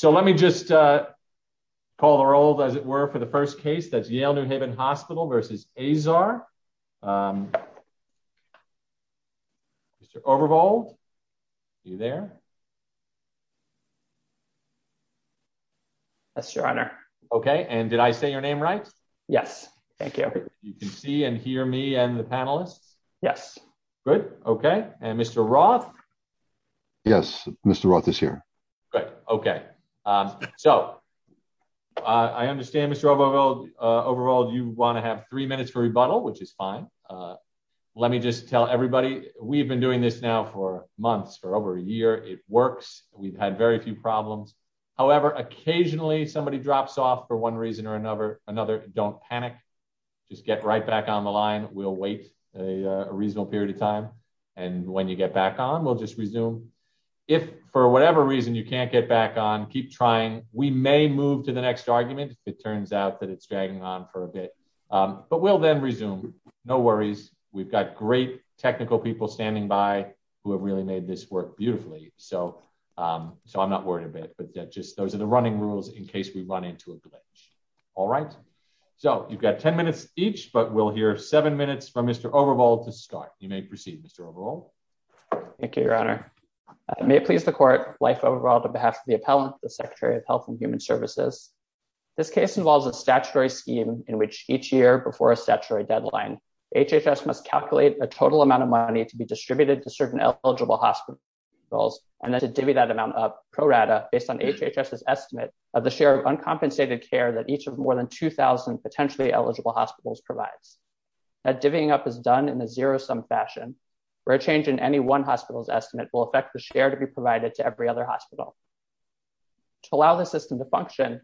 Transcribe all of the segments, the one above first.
So let me just call the roll, as it were, for the first case. That's Yale New Haven Hospital v. Azar. Mr. Overbold, are you there? Yes, Your Honor. Okay, and did I say your name right? Yes, thank you. You can see and hear me and the panelists? Yes. Good, okay. And Mr. Roth? Yes, Mr. Roth is here. Good, okay. So I understand, Mr. Overbold, you wanna have three minutes for rebuttal, which is fine. Let me just tell everybody, we've been doing this now for months, for over a year. It works. We've had very few problems. However, occasionally somebody drops off for one reason or another, don't panic. Just get right back on the line. We'll wait a reasonable period of time. And when you get back on, we'll just resume. If for whatever reason you can't get back on, keep trying. We may move to the next argument if it turns out that it's dragging on for a bit, but we'll then resume. No worries. We've got great technical people standing by who have really made this work beautifully. So I'm not worried a bit, but just those are the running rules in case we run into a glitch, all right? So you've got 10 minutes each, but we'll hear seven minutes from Mr. Overbold to start. You may proceed, Mr. Overbold. Thank you, Your Honor. May it please the court, life overall, on behalf of the appellant, the Secretary of Health and Human Services. This case involves a statutory scheme in which each year before a statutory deadline, HHS must calculate a total amount of money to be distributed to certain eligible hospitals and then to divvy that amount up pro rata based on HHS's estimate of the share of uncompensated care that each of more than 2,000 potentially eligible hospitals provides. That divvying up is done in a zero-sum fashion where a change in any one hospital's estimate will affect the share to be provided to every other hospital. To allow the system to function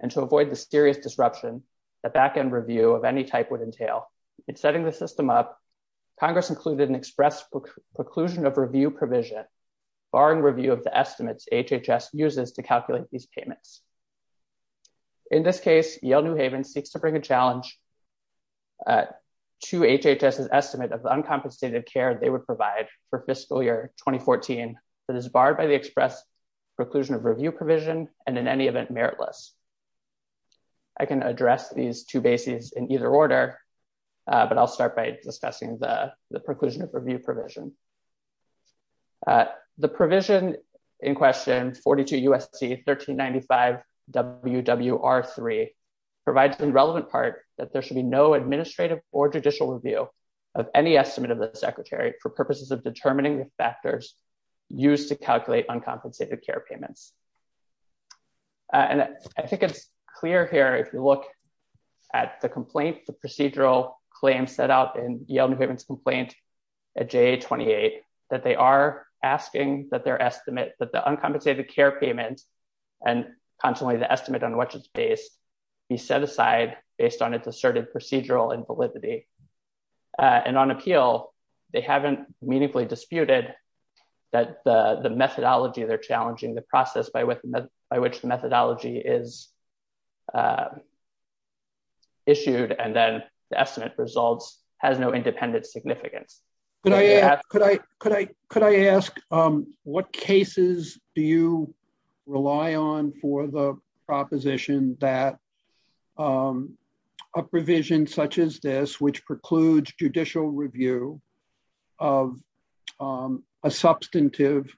and to avoid the serious disruption that back-end review of any type would entail, in setting the system up, Congress included an express preclusion of review provision barring review of the estimates HHS uses to calculate these payments. In this case, Yale New Haven seeks to bring a challenge to HHS's estimate of the uncompensated care they would provide for fiscal year 2014 that is barred by the express preclusion of review provision and in any event, meritless. I can address these two bases in either order, but I'll start by discussing the preclusion of review provision. The provision in question 42 USC 1395 WWR3 provides the relevant part that there should be no administrative or judicial review of any estimate of the secretary for purposes of determining the factors used to calculate uncompensated care payments. And I think it's clear here, if you look at the complaint, the procedural claim set out in Yale New Haven's complaint at JA 28, that they are asking that their estimate, that the uncompensated care payment and consequently the estimate on which it's based be set aside based on its asserted procedural invalidity. And on appeal, they haven't meaningfully disputed that the methodology they're challenging, the process by which the methodology is issued and then the estimate results has no independent significance. Could I ask, what cases do you rely on for the proposition that a provision such as this, which precludes judicial review of a substantive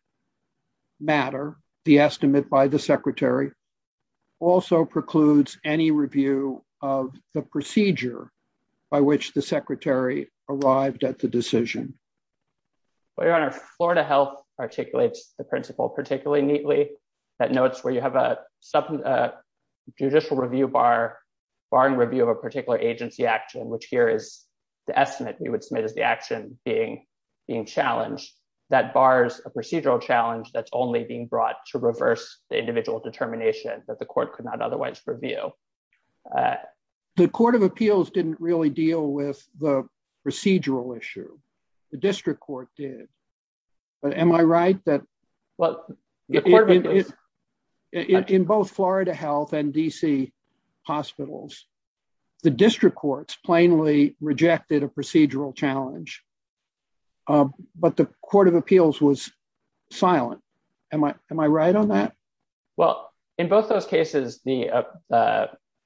matter, the estimate by the secretary also precludes any review of the procedure by which the secretary arrived at the decision? Your Honor, Florida Health articulates the principle particularly neatly that notes where you have a judicial review bar, bar and review of a particular agency action, which here is the estimate you would submit as the action being challenged, that bars a procedural challenge that's only being brought to reverse the individual determination that the court could not otherwise review. The court of appeals didn't really deal with the procedural issue. The district court did. But am I right that- In both Florida Health and DC hospitals, the district courts plainly rejected a procedural challenge, but the court of appeals was silent. Am I right on that? Well, in both those cases, the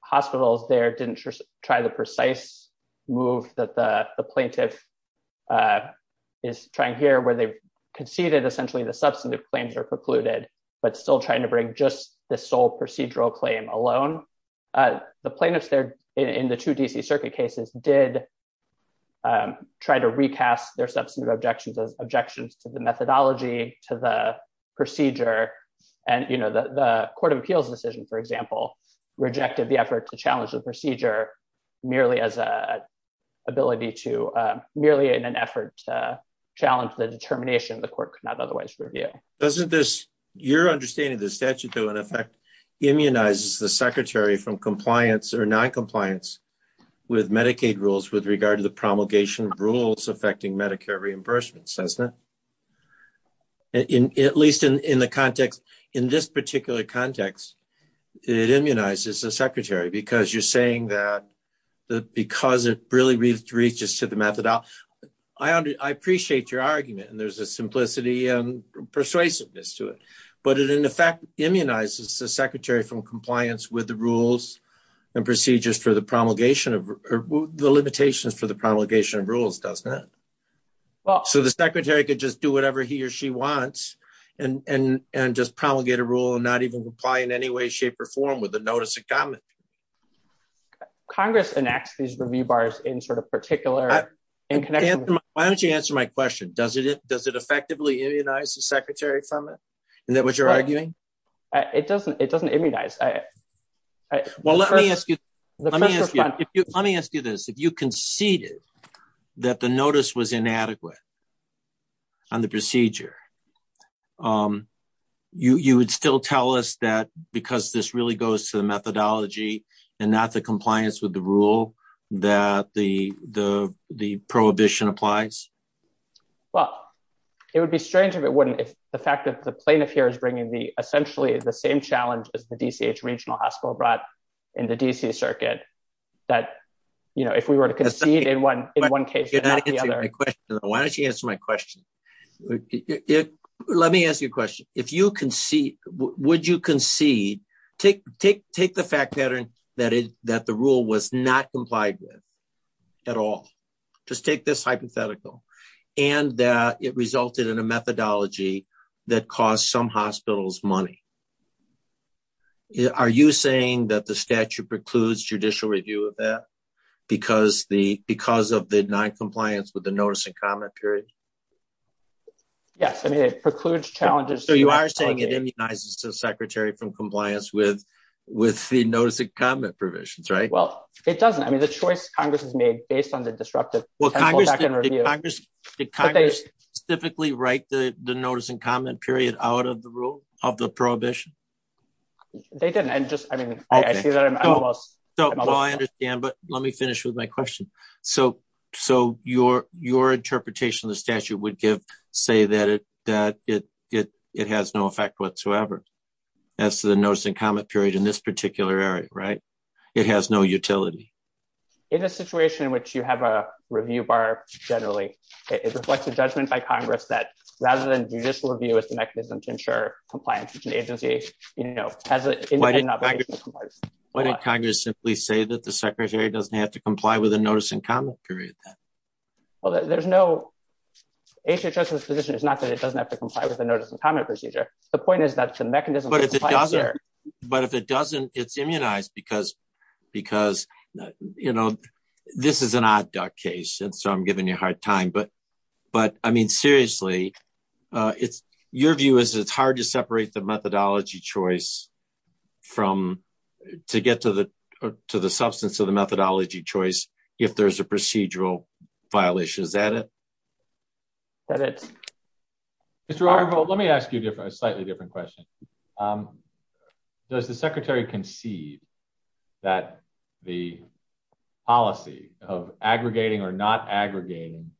hospitals there didn't try the precise move that the plaintiff is trying here where they conceded essentially the substantive claims are precluded, but still trying to bring just the sole procedural claim alone. The plaintiffs there in the two DC circuit cases did try to recast their substantive objections as objections to the methodology, to the procedure. And the court of appeals decision, for example, rejected the effort to challenge the procedure merely as an ability to, merely in an effort to challenge the determination the court could not otherwise review. Doesn't this, your understanding of the statute though, in effect, immunizes the secretary from compliance or non-compliance with Medicaid rules with regard to the promulgation of rules affecting Medicare reimbursements, doesn't it? At least in the context, in this particular context, it immunizes the secretary because you're saying that, because it really reaches to the methodology. I appreciate your argument and there's a simplicity and persuasiveness to it, but it in effect immunizes the secretary from compliance with the rules and procedures for the promulgation of, the limitations for the promulgation of rules, doesn't it? So the secretary could just do whatever he or she wants and just promulgate a rule and not even comply in any way, shape or form with the notice of comment. Congress enacts these review bars in sort of particular, in connection with- Why don't you answer my question? Does it effectively immunize the secretary from it? Isn't that what you're arguing? It doesn't immunize. Well, let me ask you this. If you conceded that the notice was inadequate on the procedure, you would still tell us that because this really goes to the methodology and not the compliance with the rule that the prohibition applies? Well, it would be strange if it wouldn't, if the fact that the plaintiff here is bringing the essentially the same challenge as the DCH regional hospital brought in the DC circuit, that if we were to concede in one case, not the other. Why don't you answer my question? Let me ask you a question. If you concede, would you concede, take the fact pattern that the rule was not complied with at all, just take this hypothetical and that it resulted in a methodology that costs some hospitals money. Are you saying that the statute precludes judicial review of that because of the non-compliance with the notice and comment period? Yes, I mean, it precludes challenges- So you are saying it immunizes the secretary from compliance with the notice and comment provisions, right? Well, it doesn't. I mean, the choice Congress has made based on the disruptive- Well, Congress did specifically write the notice and comment period out of the rule, of the prohibition? They didn't. And just, I mean, I see that I'm almost- So, well, I understand, but let me finish with my question. So your interpretation of the statute would give, say that it has no effect whatsoever as to the notice and comment period in this particular area, right? It has no utility. In a situation in which you have a review bar, generally, it reflects a judgment by Congress that rather than judicial review as the mechanism to ensure compliance with an agency, has an independent obligation to comply- Why didn't Congress simply say that the secretary doesn't have to comply with the notice and comment period then? Well, there's no, HHS's position is not that it doesn't have to comply with the notice and comment procedure. The point is that the mechanism- But if it doesn't, it's immunized because this is an odd duck case. And so I'm giving you a hard time, but I mean, seriously, your view is that it's hard to separate the methodology choice to get to the substance of the methodology choice if there's a procedural violation. Is that it? That it. Mr. Arvold, let me ask you a slightly different question. Does the secretary concede that the policy of aggregating or not aggregating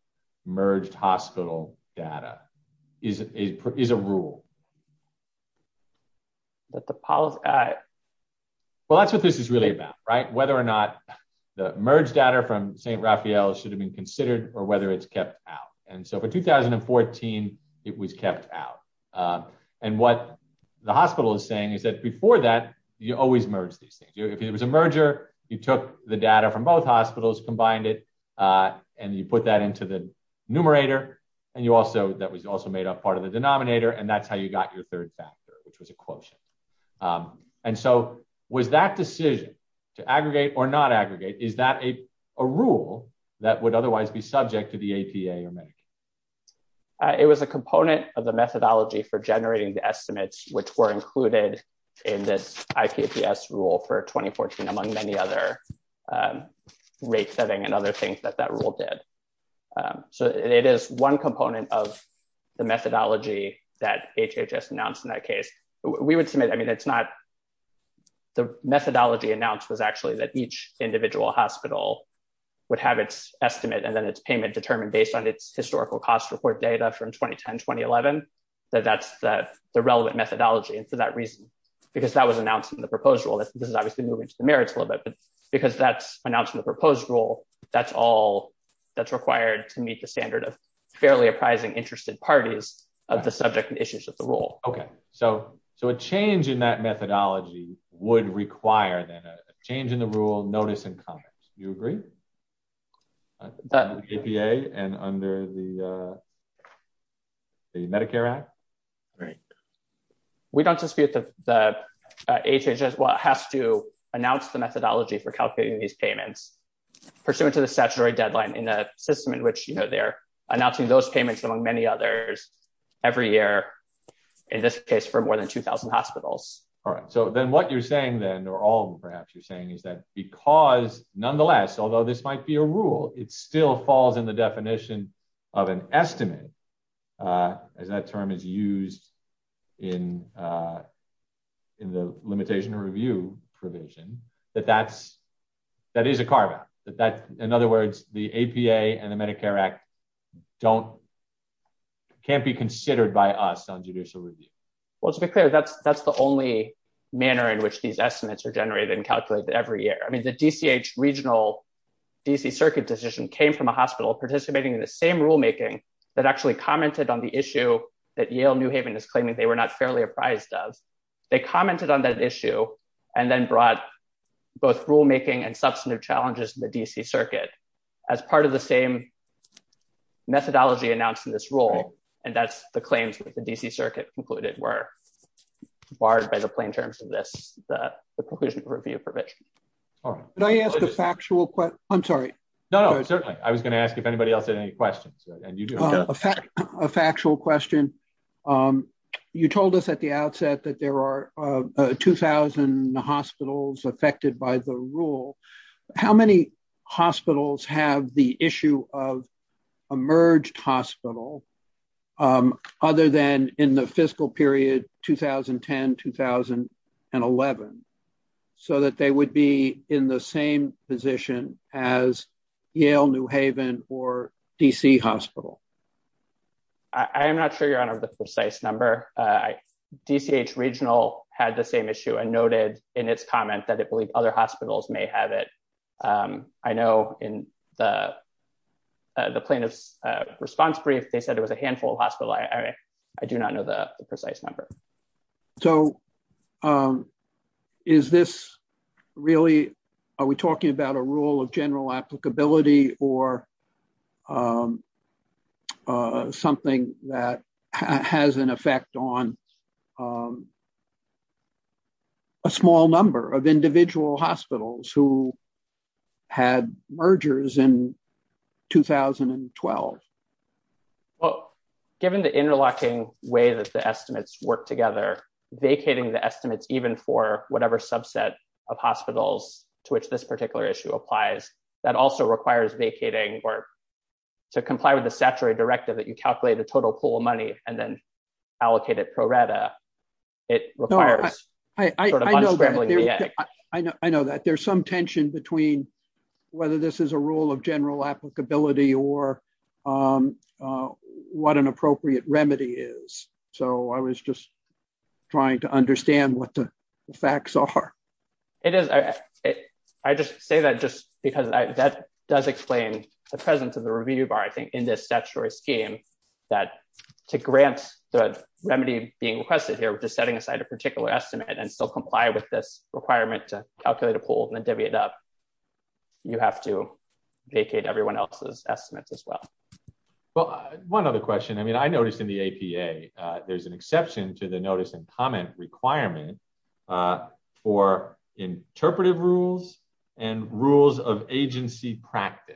merged hospital data is a rule? That the policy- Well, that's what this is really about, right? Whether or not the merged data from St. Raphael should have been considered or whether it's kept out. And so for 2014, it was kept out. And what the hospital is saying is that before that, you always merge these things. If it was a merger, you took the data from both hospitals, combined it, and you put that into the numerator, and that was also made up part of the denominator, and that's how you got your third factor, which was a quotient. And so was that decision to aggregate or not aggregate, is that a rule that would otherwise be subject to the APA or Medicaid? It was a component of the methodology for generating the estimates, which were included in this IPPS rule for 2014, among many other rate setting and other things that that rule did. So it is one component of the methodology that HHS announced in that case. We would submit, I mean, it's not, the methodology announced was actually that each individual hospital would have its estimate and then its payment determined based on its historical cost report data from 2010, 2011, that that's the relevant methodology. And for that reason, because that was announced in the proposed rule, this is obviously moving to the merits a little bit, but because that's announced in the proposed rule, that's all that's required to meet the standard of fairly apprising interested parties of the subject and issues of the rule. Okay, so a change in that methodology would require then a change in the rule, notice, and comment, do you agree? Under the APA and under the Medicare Act? Right. We don't dispute that HHS has to announce the methodology for calculating these payments pursuant to the statutory deadline in a system in which they're announcing those payments among many others every year, in this case for more than 2000 hospitals. All right, so then what you're saying then, or all of them perhaps you're saying is that because nonetheless, although this might be a rule, it still falls in the definition of an estimate, as that term is used in the limitation review provision, that that is a carve out, that in other words, the APA and the Medicare Act can't be considered by us on judicial review. Well, to be clear, that's the only manner in which these estimates are generated and calculated every year. I mean, the DCH regional DC circuit decision came from a hospital participating in the same rulemaking that actually commented on the issue that Yale New Haven is claiming they were not fairly apprised of. They commented on that issue and then brought both rulemaking and substantive challenges in the DC circuit as part of the same methodology announced in this rule. And that's the claims that the DC circuit concluded were barred by the plain terms of this, the conclusion review provision. Did I ask a factual question? I'm sorry. No, no, certainly. I was gonna ask if anybody else had any questions. And you do. A factual question. You told us at the outset that there are 2000 hospitals affected by the rule. How many hospitals have the issue of a merged hospital other than in the fiscal period, 2010, 2011, so that they would be in the same position as Yale New Haven or DC hospital? I am not sure you're on the precise number. DCH regional had the same issue and noted in its comment that it believed other hospitals may have it. I know in the plaintiff's response brief, they said it was a handful of hospital. I do not know the precise number. So is this really, are we talking about a rule of general applicability or something that has an effect on a small number of individual hospitals who had mergers in 2012? Well, given the interlocking way that the estimates work together, vacating the estimates, even for whatever subset of hospitals to which this particular issue applies, that also requires vacating or to comply with the statutory directive that you calculate the total pool of money and then allocate it pro rata. It requires sort of unscrambling the egg. I know that. There's some tension between whether this is a rule of general applicability or what an appropriate remedy is. So I was just trying to understand what the facts are. It is. I just say that just because that does explain the presence of the review bar, I think in this statutory scheme that to grant the remedy being requested here, we're just setting aside a particular estimate and still comply with this requirement to calculate a pool and then divvy it up. You have to vacate everyone else's estimates as well. Well, one other question. I mean, I noticed in the APA, there's an exception to the notice and comment requirement for interpretive rules and rules of agency practice.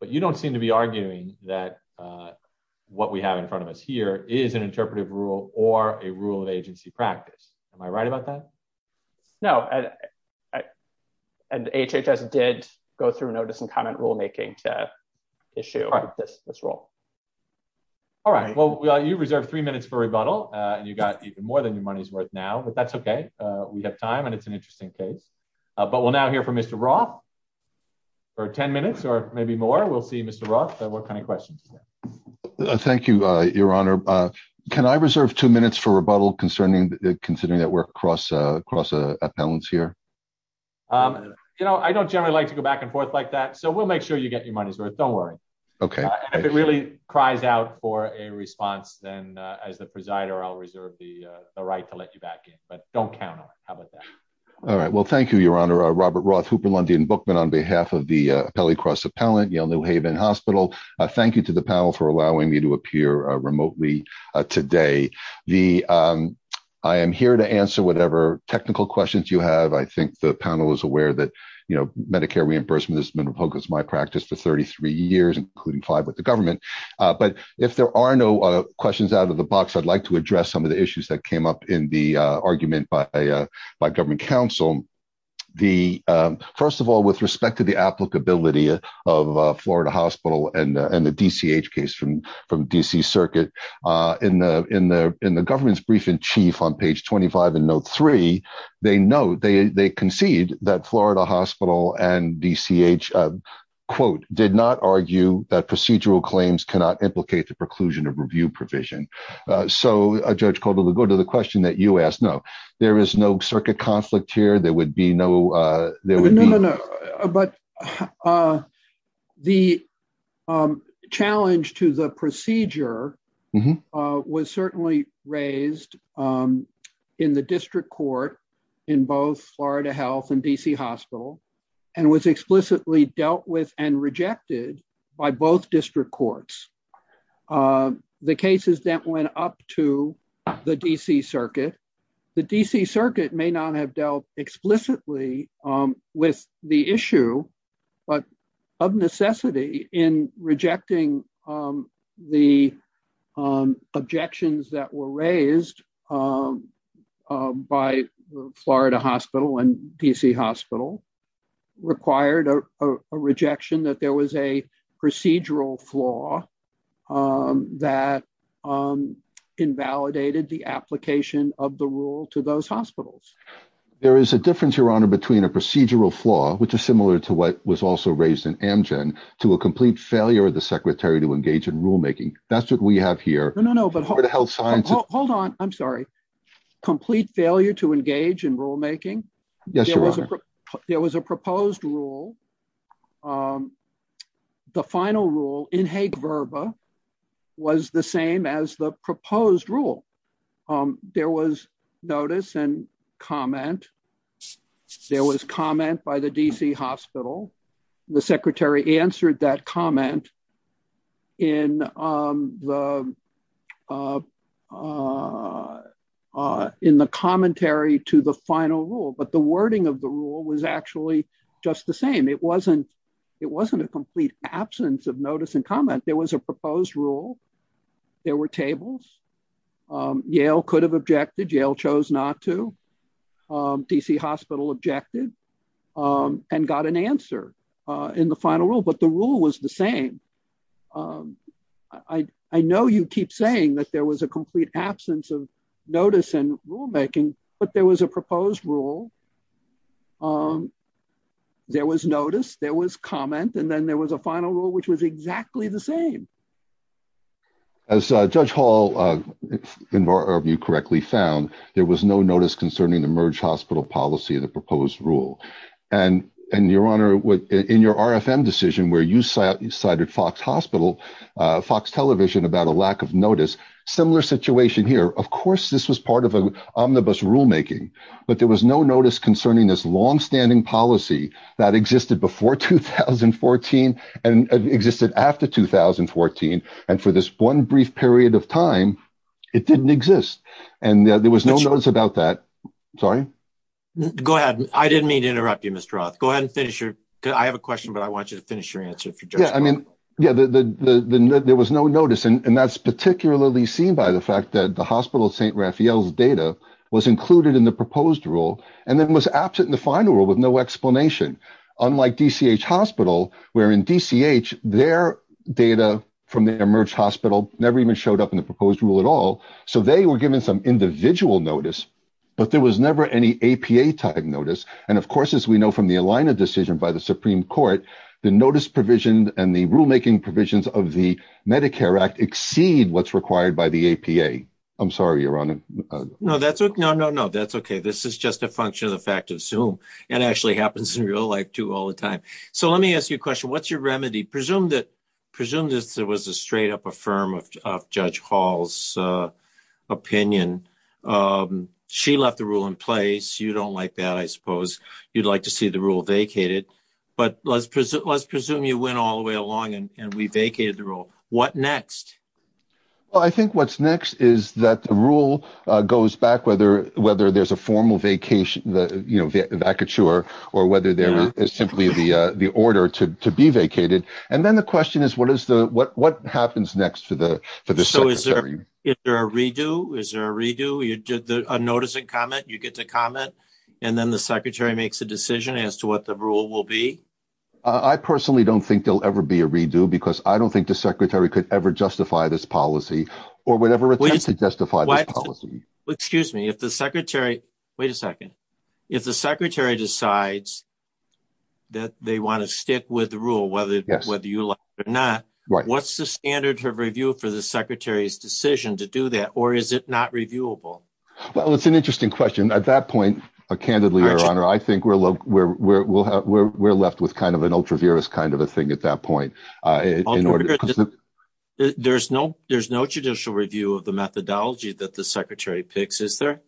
But you don't seem to be arguing that what we have in front of us here is an interpretive rule or a rule of agency practice. Am I right about that? No, and HHS did go through notice and comment rulemaking to issue this rule. All right, well, you reserved three minutes for rebuttal and you got even more than your money's worth now, but that's okay. We have time and it's an interesting case, but we'll now hear from Mr. Roth for 10 minutes or maybe more. We'll see Mr. Roth, what kind of questions? Thank you, Your Honor. Can I reserve two minutes for rebuttal considering that we're cross appellants here? I don't generally like to go back and forth like that. So we'll make sure you get your money's worth, don't worry. Okay. And if it really cries out for a response, then as the presider, I'll reserve the right to let you back in, but don't count on it. How about that? All right, well, thank you, Your Honor. Robert Roth, Hooper, Lundy, and Bookman on behalf of the Appellee Cross Appellant, Yale New Haven Hospital. Thank you to the panel for allowing me to appear remotely today. The, I am here to answer whatever technical questions you have. I think the panel is aware that, you know, Medicare reimbursement has been a focus of my practice for 33 years, including five with the government. But if there are no questions out of the box, I'd like to address some of the issues that came up in the argument by government counsel. The, first of all, with respect to the applicability of Florida Hospital and the DCH case from DC circuit in the government's brief in chief on page 25 in note three, they note, they concede that Florida Hospital and DCH, quote, did not argue that procedural claims cannot implicate the preclusion of review provision. So Judge Caldwell, to go to the question that you asked, no, there is no circuit conflict here. There would be no, there would be- No, no, no, but the challenge to the procedure was certainly raised in the district court in both Florida Health and DC Hospital and was explicitly dealt with and rejected by both district courts. The cases that went up to the DC circuit, the DC circuit may not have dealt explicitly with the issue, but of necessity in rejecting the objections that were raised by Florida Hospital and DC Hospital required a rejection that there was a procedural flaw that invalidated the application of the rule to those hospitals. There is a difference, Your Honor, between a procedural flaw, which is similar to what was also raised in Amgen to a complete failure of the secretary to engage in rulemaking. That's what we have here. No, no, no, but- Florida Health Sciences- Hold on, I'm sorry. Complete failure to engage in rulemaking? Yes, Your Honor. There was a proposed rule. The final rule in Hague Verba was the same as the proposed rule. There was notice and comment. There was comment by the DC Hospital. The secretary answered that comment in the commentary to the final rule, but the wording of the rule was actually just the same. It wasn't a complete absence of notice and comment. There was a proposed rule. There were tables. Yale could have objected. Yale chose not to. DC Hospital objected and got an answer in the final rule, but the rule was the same. I know you keep saying that there was a complete absence of notice and rulemaking, but there was a proposed rule. There was notice, there was comment, and then there was a final rule, which was exactly the same. As Judge Hall, if you correctly found, there was no notice concerning the merge hospital policy in the proposed rule. And Your Honor, in your RFM decision where you cited Fox Television about a lack of notice, similar situation here. Of course, this was part of an omnibus rulemaking, but there was no notice concerning this longstanding policy that existed before 2014 and existed after 2014. And for this one brief period of time, it didn't exist. And there was no notice about that. Sorry. Go ahead. I didn't mean to interrupt you, Mr. Roth. Go ahead and finish your, I have a question, but I want you to finish your answer if you're just- Yeah, I mean, yeah, there was no notice. And that's particularly seen by the fact that the Hospital of St. Raphael's data was included in the proposed rule and then was absent in the final rule with no explanation. Unlike DCH Hospital, where in DCH, their data from the emerged hospital never even showed up in the proposed rule at all. So they were given some individual notice, but there was never any APA type notice. And of course, as we know from the Alina decision by the Supreme Court, the notice provision and the rulemaking provisions of the Medicare Act exceed what's required by the APA. I'm sorry, Your Honor. No, that's okay. No, no, no, that's okay. This is just a function of the fact of Zoom. It actually happens in real life too, all the time. So let me ask you a question. What's your remedy? Presume that there was a straight up affirm of Judge Hall's opinion. She left the rule in place. You don't like that, I suppose. You'd like to see the rule vacated, but let's presume you went all the way along and we vacated the rule. What next? Well, I think what's next is that the rule goes back whether there's a formal vacature or whether there is simply the order to be vacated. And then the question is, what happens next for the secretary? Is there a redo? Is there a redo? You did the unnoticing comment. You get to comment. And then the secretary makes a decision as to what the rule will be. I personally don't think there'll ever be a redo because I don't think the secretary could ever justify this policy or would ever attempt to justify this policy. Excuse me. If the secretary, wait a second. If the secretary decides that they wanna stick with the rule whether you like it or not, what's the standard of review for the secretary's decision to do that? Or is it not reviewable? Well, it's an interesting question. At that point, candidly, Your Honor, I think we're left with kind of an ultra-virus kind of a thing at that point. There's no judicial review of the methodology that the secretary picks, is there?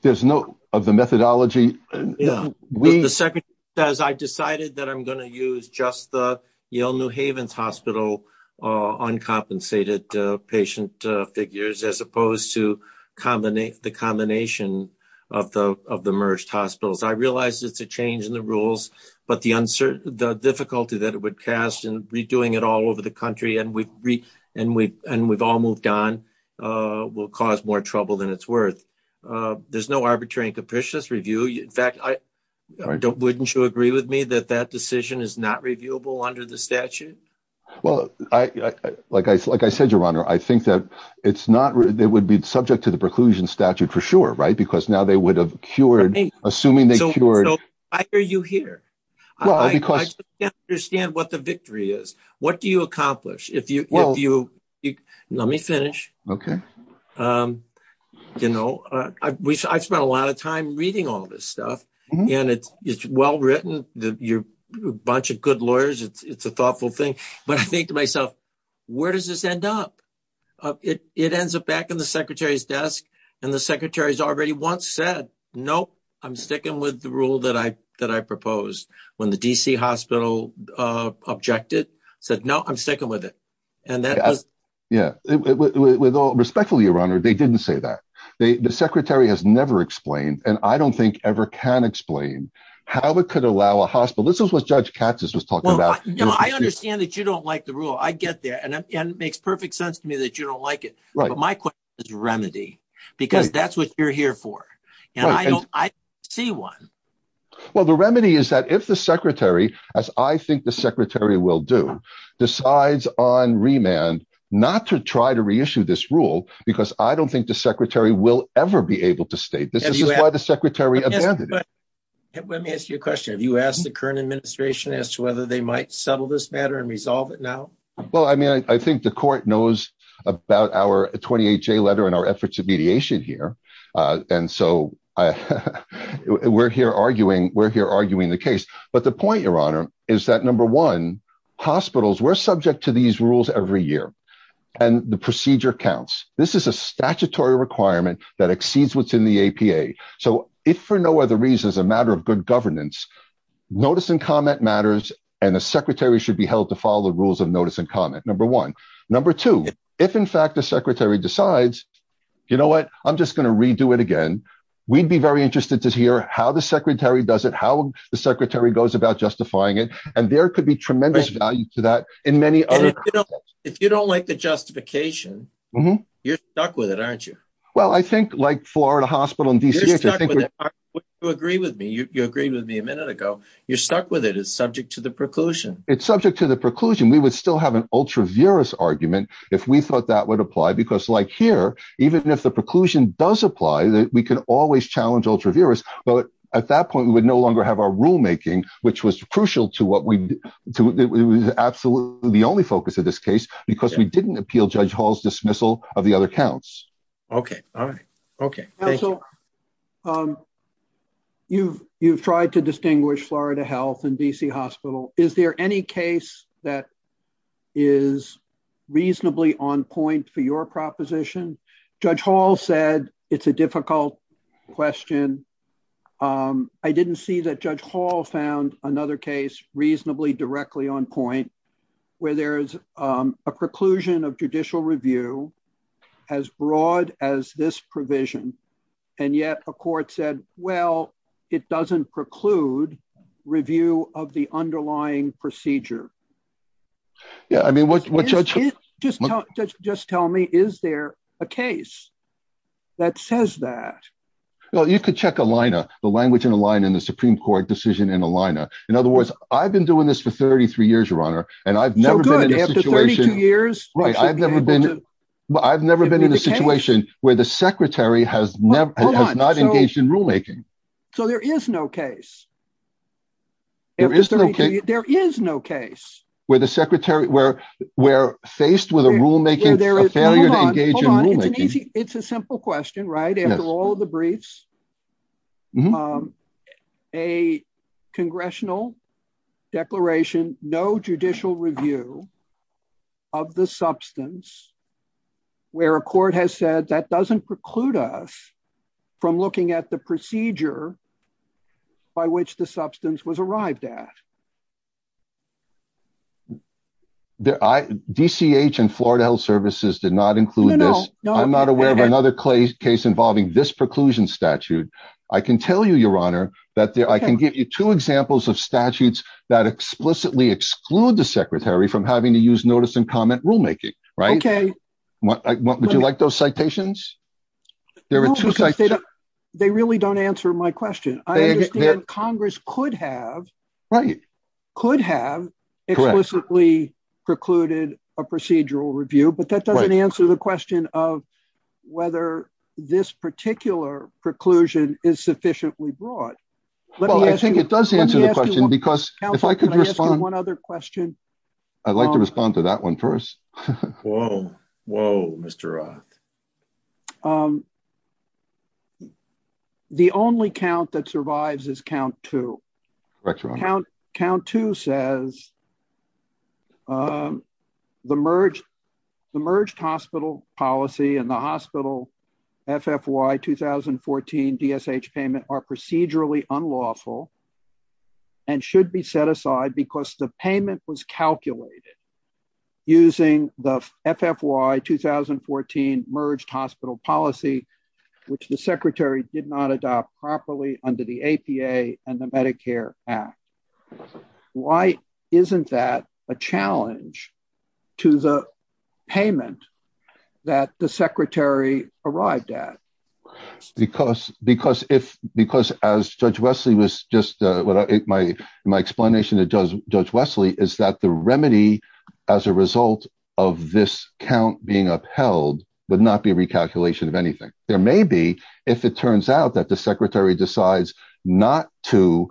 There's no of the methodology. The secretary says, I decided that I'm gonna use just the Yale New Havens Hospital uncompensated patient figures as opposed to the combination of the merged hospitals. I realized it's a change in the rules, but the difficulty that it would cast in redoing it all over the country and we've all moved on will cause more trouble than it's worth. There's no arbitrary and capricious review. In fact, wouldn't you agree with me that that decision is not reviewable under the statute? Well, like I said, Your Honor, I think that it would be subject to the preclusion statute for sure, right? Because now they would have cured, assuming they cured- So why are you here? Well, because- I just can't understand what the victory is. What do you accomplish? Let me finish. Okay. You know, I've spent a lot of time reading all this stuff and it's well-written. You're a bunch of good lawyers. It's a thoughtful thing. But I think to myself, where does this end up? It ends up back in the secretary's desk and the secretary's already once said, nope, I'm sticking with the rule that I proposed. When the DC hospital objected, said, no, I'm sticking with it. And that was- Yeah, respectfully, Your Honor, they didn't say that. The secretary has never explained and I don't think ever can explain how it could allow a hospital. This is what Judge Katz has just talked about. No, I understand that you don't like the rule. I get there. And it makes perfect sense to me that you don't like it. Right. But my question is remedy because that's what you're here for. And I don't see one. Well, the remedy is that if the secretary, as I think the secretary will do, decides on remand, not to try to reissue this rule because I don't think the secretary will ever be able to state this. This is why the secretary abandoned it. Let me ask you a question. Have you asked the current administration as to whether they might settle this matter and resolve it now? Well, I mean, I think the court knows about our 28-J letter and our efforts of mediation here. And so we're here arguing the case. But the point, Your Honor, is that number one, hospitals, we're subject to these rules every year and the procedure counts. This is a statutory requirement that exceeds what's in the APA. So if for no other reasons, a matter of good governance, notice and comment matters, and the secretary should be held to follow the rules of notice and comment, number one. Number two, if in fact the secretary decides, you know what, I'm just gonna redo it again. We'd be very interested to hear how the secretary does it, and there could be tremendous value to that in many other- And if you don't like the justification, you're stuck with it, aren't you? Well, I think like Florida Hospital and DCH- You're stuck with it, aren't you? You agree with me. You agreed with me a minute ago. You're stuck with it. It's subject to the preclusion. It's subject to the preclusion. We would still have an ultra-virus argument if we thought that would apply, because like here, even if the preclusion does apply, we can always challenge ultra-virus. But at that point, we would no longer have our rulemaking, which was crucial to what we- It was absolutely the only focus of this case, because we didn't appeal Judge Hall's dismissal of the other counts. Okay, all right. Okay, thank you. Counsel, you've tried to distinguish Florida Health and D.C. Hospital. Is there any case that is reasonably on point for your proposition? Judge Hall said it's a difficult question. I didn't see that Judge Hall found another case reasonably directly on point, where there's a preclusion of judicial review as broad as this provision, and yet a court said, well, it doesn't preclude review of the underlying procedure. Yeah, I mean, what's- Just tell me, is there a case that says that? Well, you could check ALINA, the language in ALINA, and the Supreme Court decision in ALINA. In other words, I've been doing this for 33 years, Your Honor, and I've never been in a situation- So good, after 32 years- Right, I've never been in a situation where the secretary has not engaged in rulemaking. So there is no case. There is no case. There is no case. Where the secretary, where faced with a rulemaking, a failure to engage in rulemaking- Hold on, hold on, it's an easy, it's a simple question, right? After all of the briefs, a congressional declaration, no judicial review of the substance, where a court has said that doesn't preclude us from looking at the procedure by which the substance was arrived at. DCH and Florida Health Services did not include this. I'm not aware of another case involving this preclusion statute. I can tell you, Your Honor, that I can give you two examples of statutes that explicitly exclude the secretary from having to use notice and comment rulemaking, right? Okay. Would you like those citations? There were two citations- They really don't answer my question. I understand Congress could have- Right. Could have explicitly precluded a procedural review, but that doesn't answer the question of whether this particular preclusion is sufficiently broad. Let me ask you- Well, I think it does answer the question, because if I could respond- Counsel, can I ask you one other question? I'd like to respond to that one first. Whoa, whoa, Mr. Roth. The only count that survives is count two. Correct, Your Honor. Count two says, the merged hospital policy and the hospital FFY 2014 DSH payment are procedurally unlawful and should be set aside because the payment was calculated using the FFY 2014 merged hospital policy, which the secretary did not adopt properly under the APA and the Medicare Act. Why isn't that a challenge to the payment that the secretary arrived at? Because as Judge Wesley was just... My explanation to Judge Wesley is that the remedy as a result of this count being upheld would not be a recalculation of anything. There may be, if it turns out that the secretary decides not to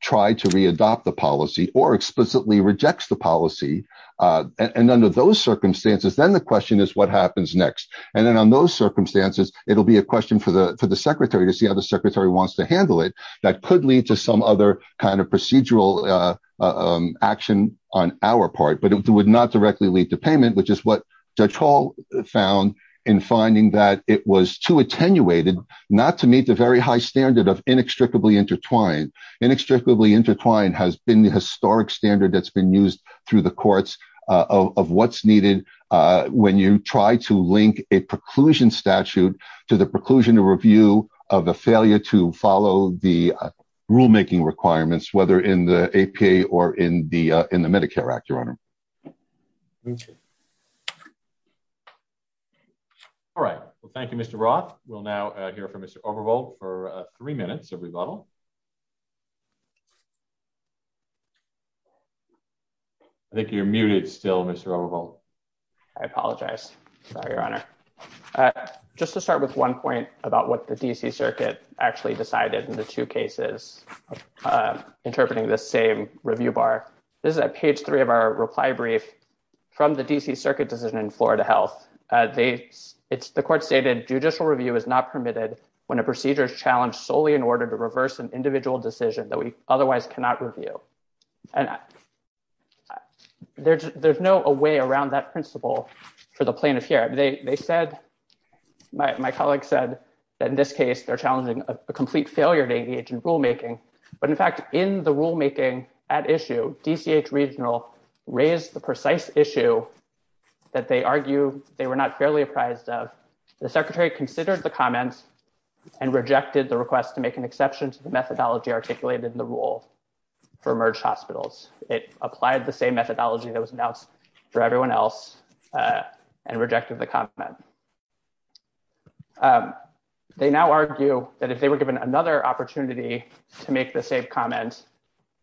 try to readopt the policy or explicitly rejects the policy. And under those circumstances, then the question is what happens next? And then on those circumstances, it'll be a question for the secretary to see how the secretary wants to handle it that could lead to some other kind of procedural action on our part, but it would not directly lead to payment, which is what Judge Hall found in finding that it was too attenuated not to meet the very high standard of inextricably intertwined. Inextricably intertwined has been the historic standard that's been used through the courts of what's needed when you try to link a preclusion statute to the preclusion of review of a failure to follow the rulemaking requirements, whether in the APA or in the Medicare Act, Your Honor. All right, well, thank you, Mr. Roth. We'll now hear from Mr. Overvalt for three minutes of rebuttal. I think you're muted still, Mr. Overvalt. I apologize, Your Honor. Just to start with one point about what the DC Circuit actually decided in the two cases interpreting the same review bar. This is at page three of our reply brief from the DC Circuit decision in Florida Health. The court stated judicial review is not permitted when a procedure is challenged solely in order to reverse an individual decision that we otherwise cannot review. And there's no way around that principle for the plaintiff here. They said, my colleague said that in this case, they're challenging a complete failure to engage in rulemaking. But in fact, in the rulemaking at issue, DCH Regional raised the precise issue that they argue they were not fairly apprised of. The secretary considered the comments and rejected the request to make an exception to the methodology articulated in the rule for emerged hospitals. It applied the same methodology that was announced for everyone else and rejected the comment. They now argue that if they were given another opportunity to make the same comment,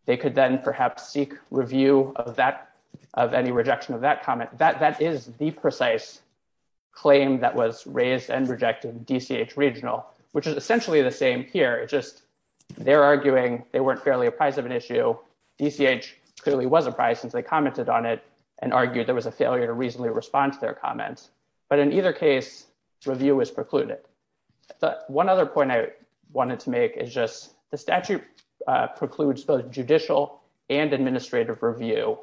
they could then perhaps seek review of any rejection of that comment. That is the precise claim that was raised and rejected DCH Regional, which is essentially the same here. It's just they're arguing they weren't fairly apprised of an issue. DCH clearly was apprised since they commented on it and argued there was a failure to reasonably respond to their comments. But in either case, review was precluded. But one other point I wanted to make is just the statute precludes both judicial and administrative review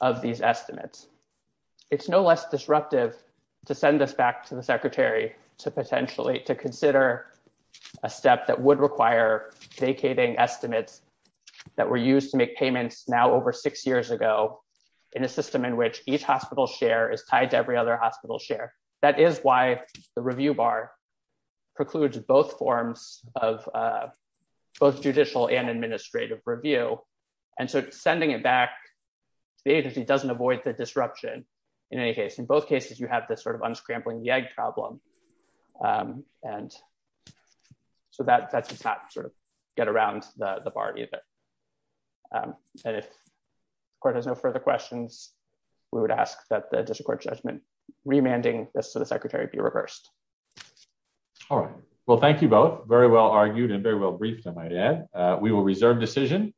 of these estimates. It's no less disruptive to send this back to the secretary to potentially to consider a step that would require vacating estimates that were used to make payments now over six years ago in a system in which each hospital share is tied to every other hospital share. That is why the review bar precludes both forms of both judicial and administrative review. And so sending it back, the agency doesn't avoid the disruption in any case. In both cases, you have this sort of unscrambling the egg problem. And so that's not sort of get around the bar either. And if court has no further questions, we would ask that the district court judgment remanding this to the secretary be reversed. All right. Well, thank you both. Very well argued and very well briefed, I might add. We will reserve decision.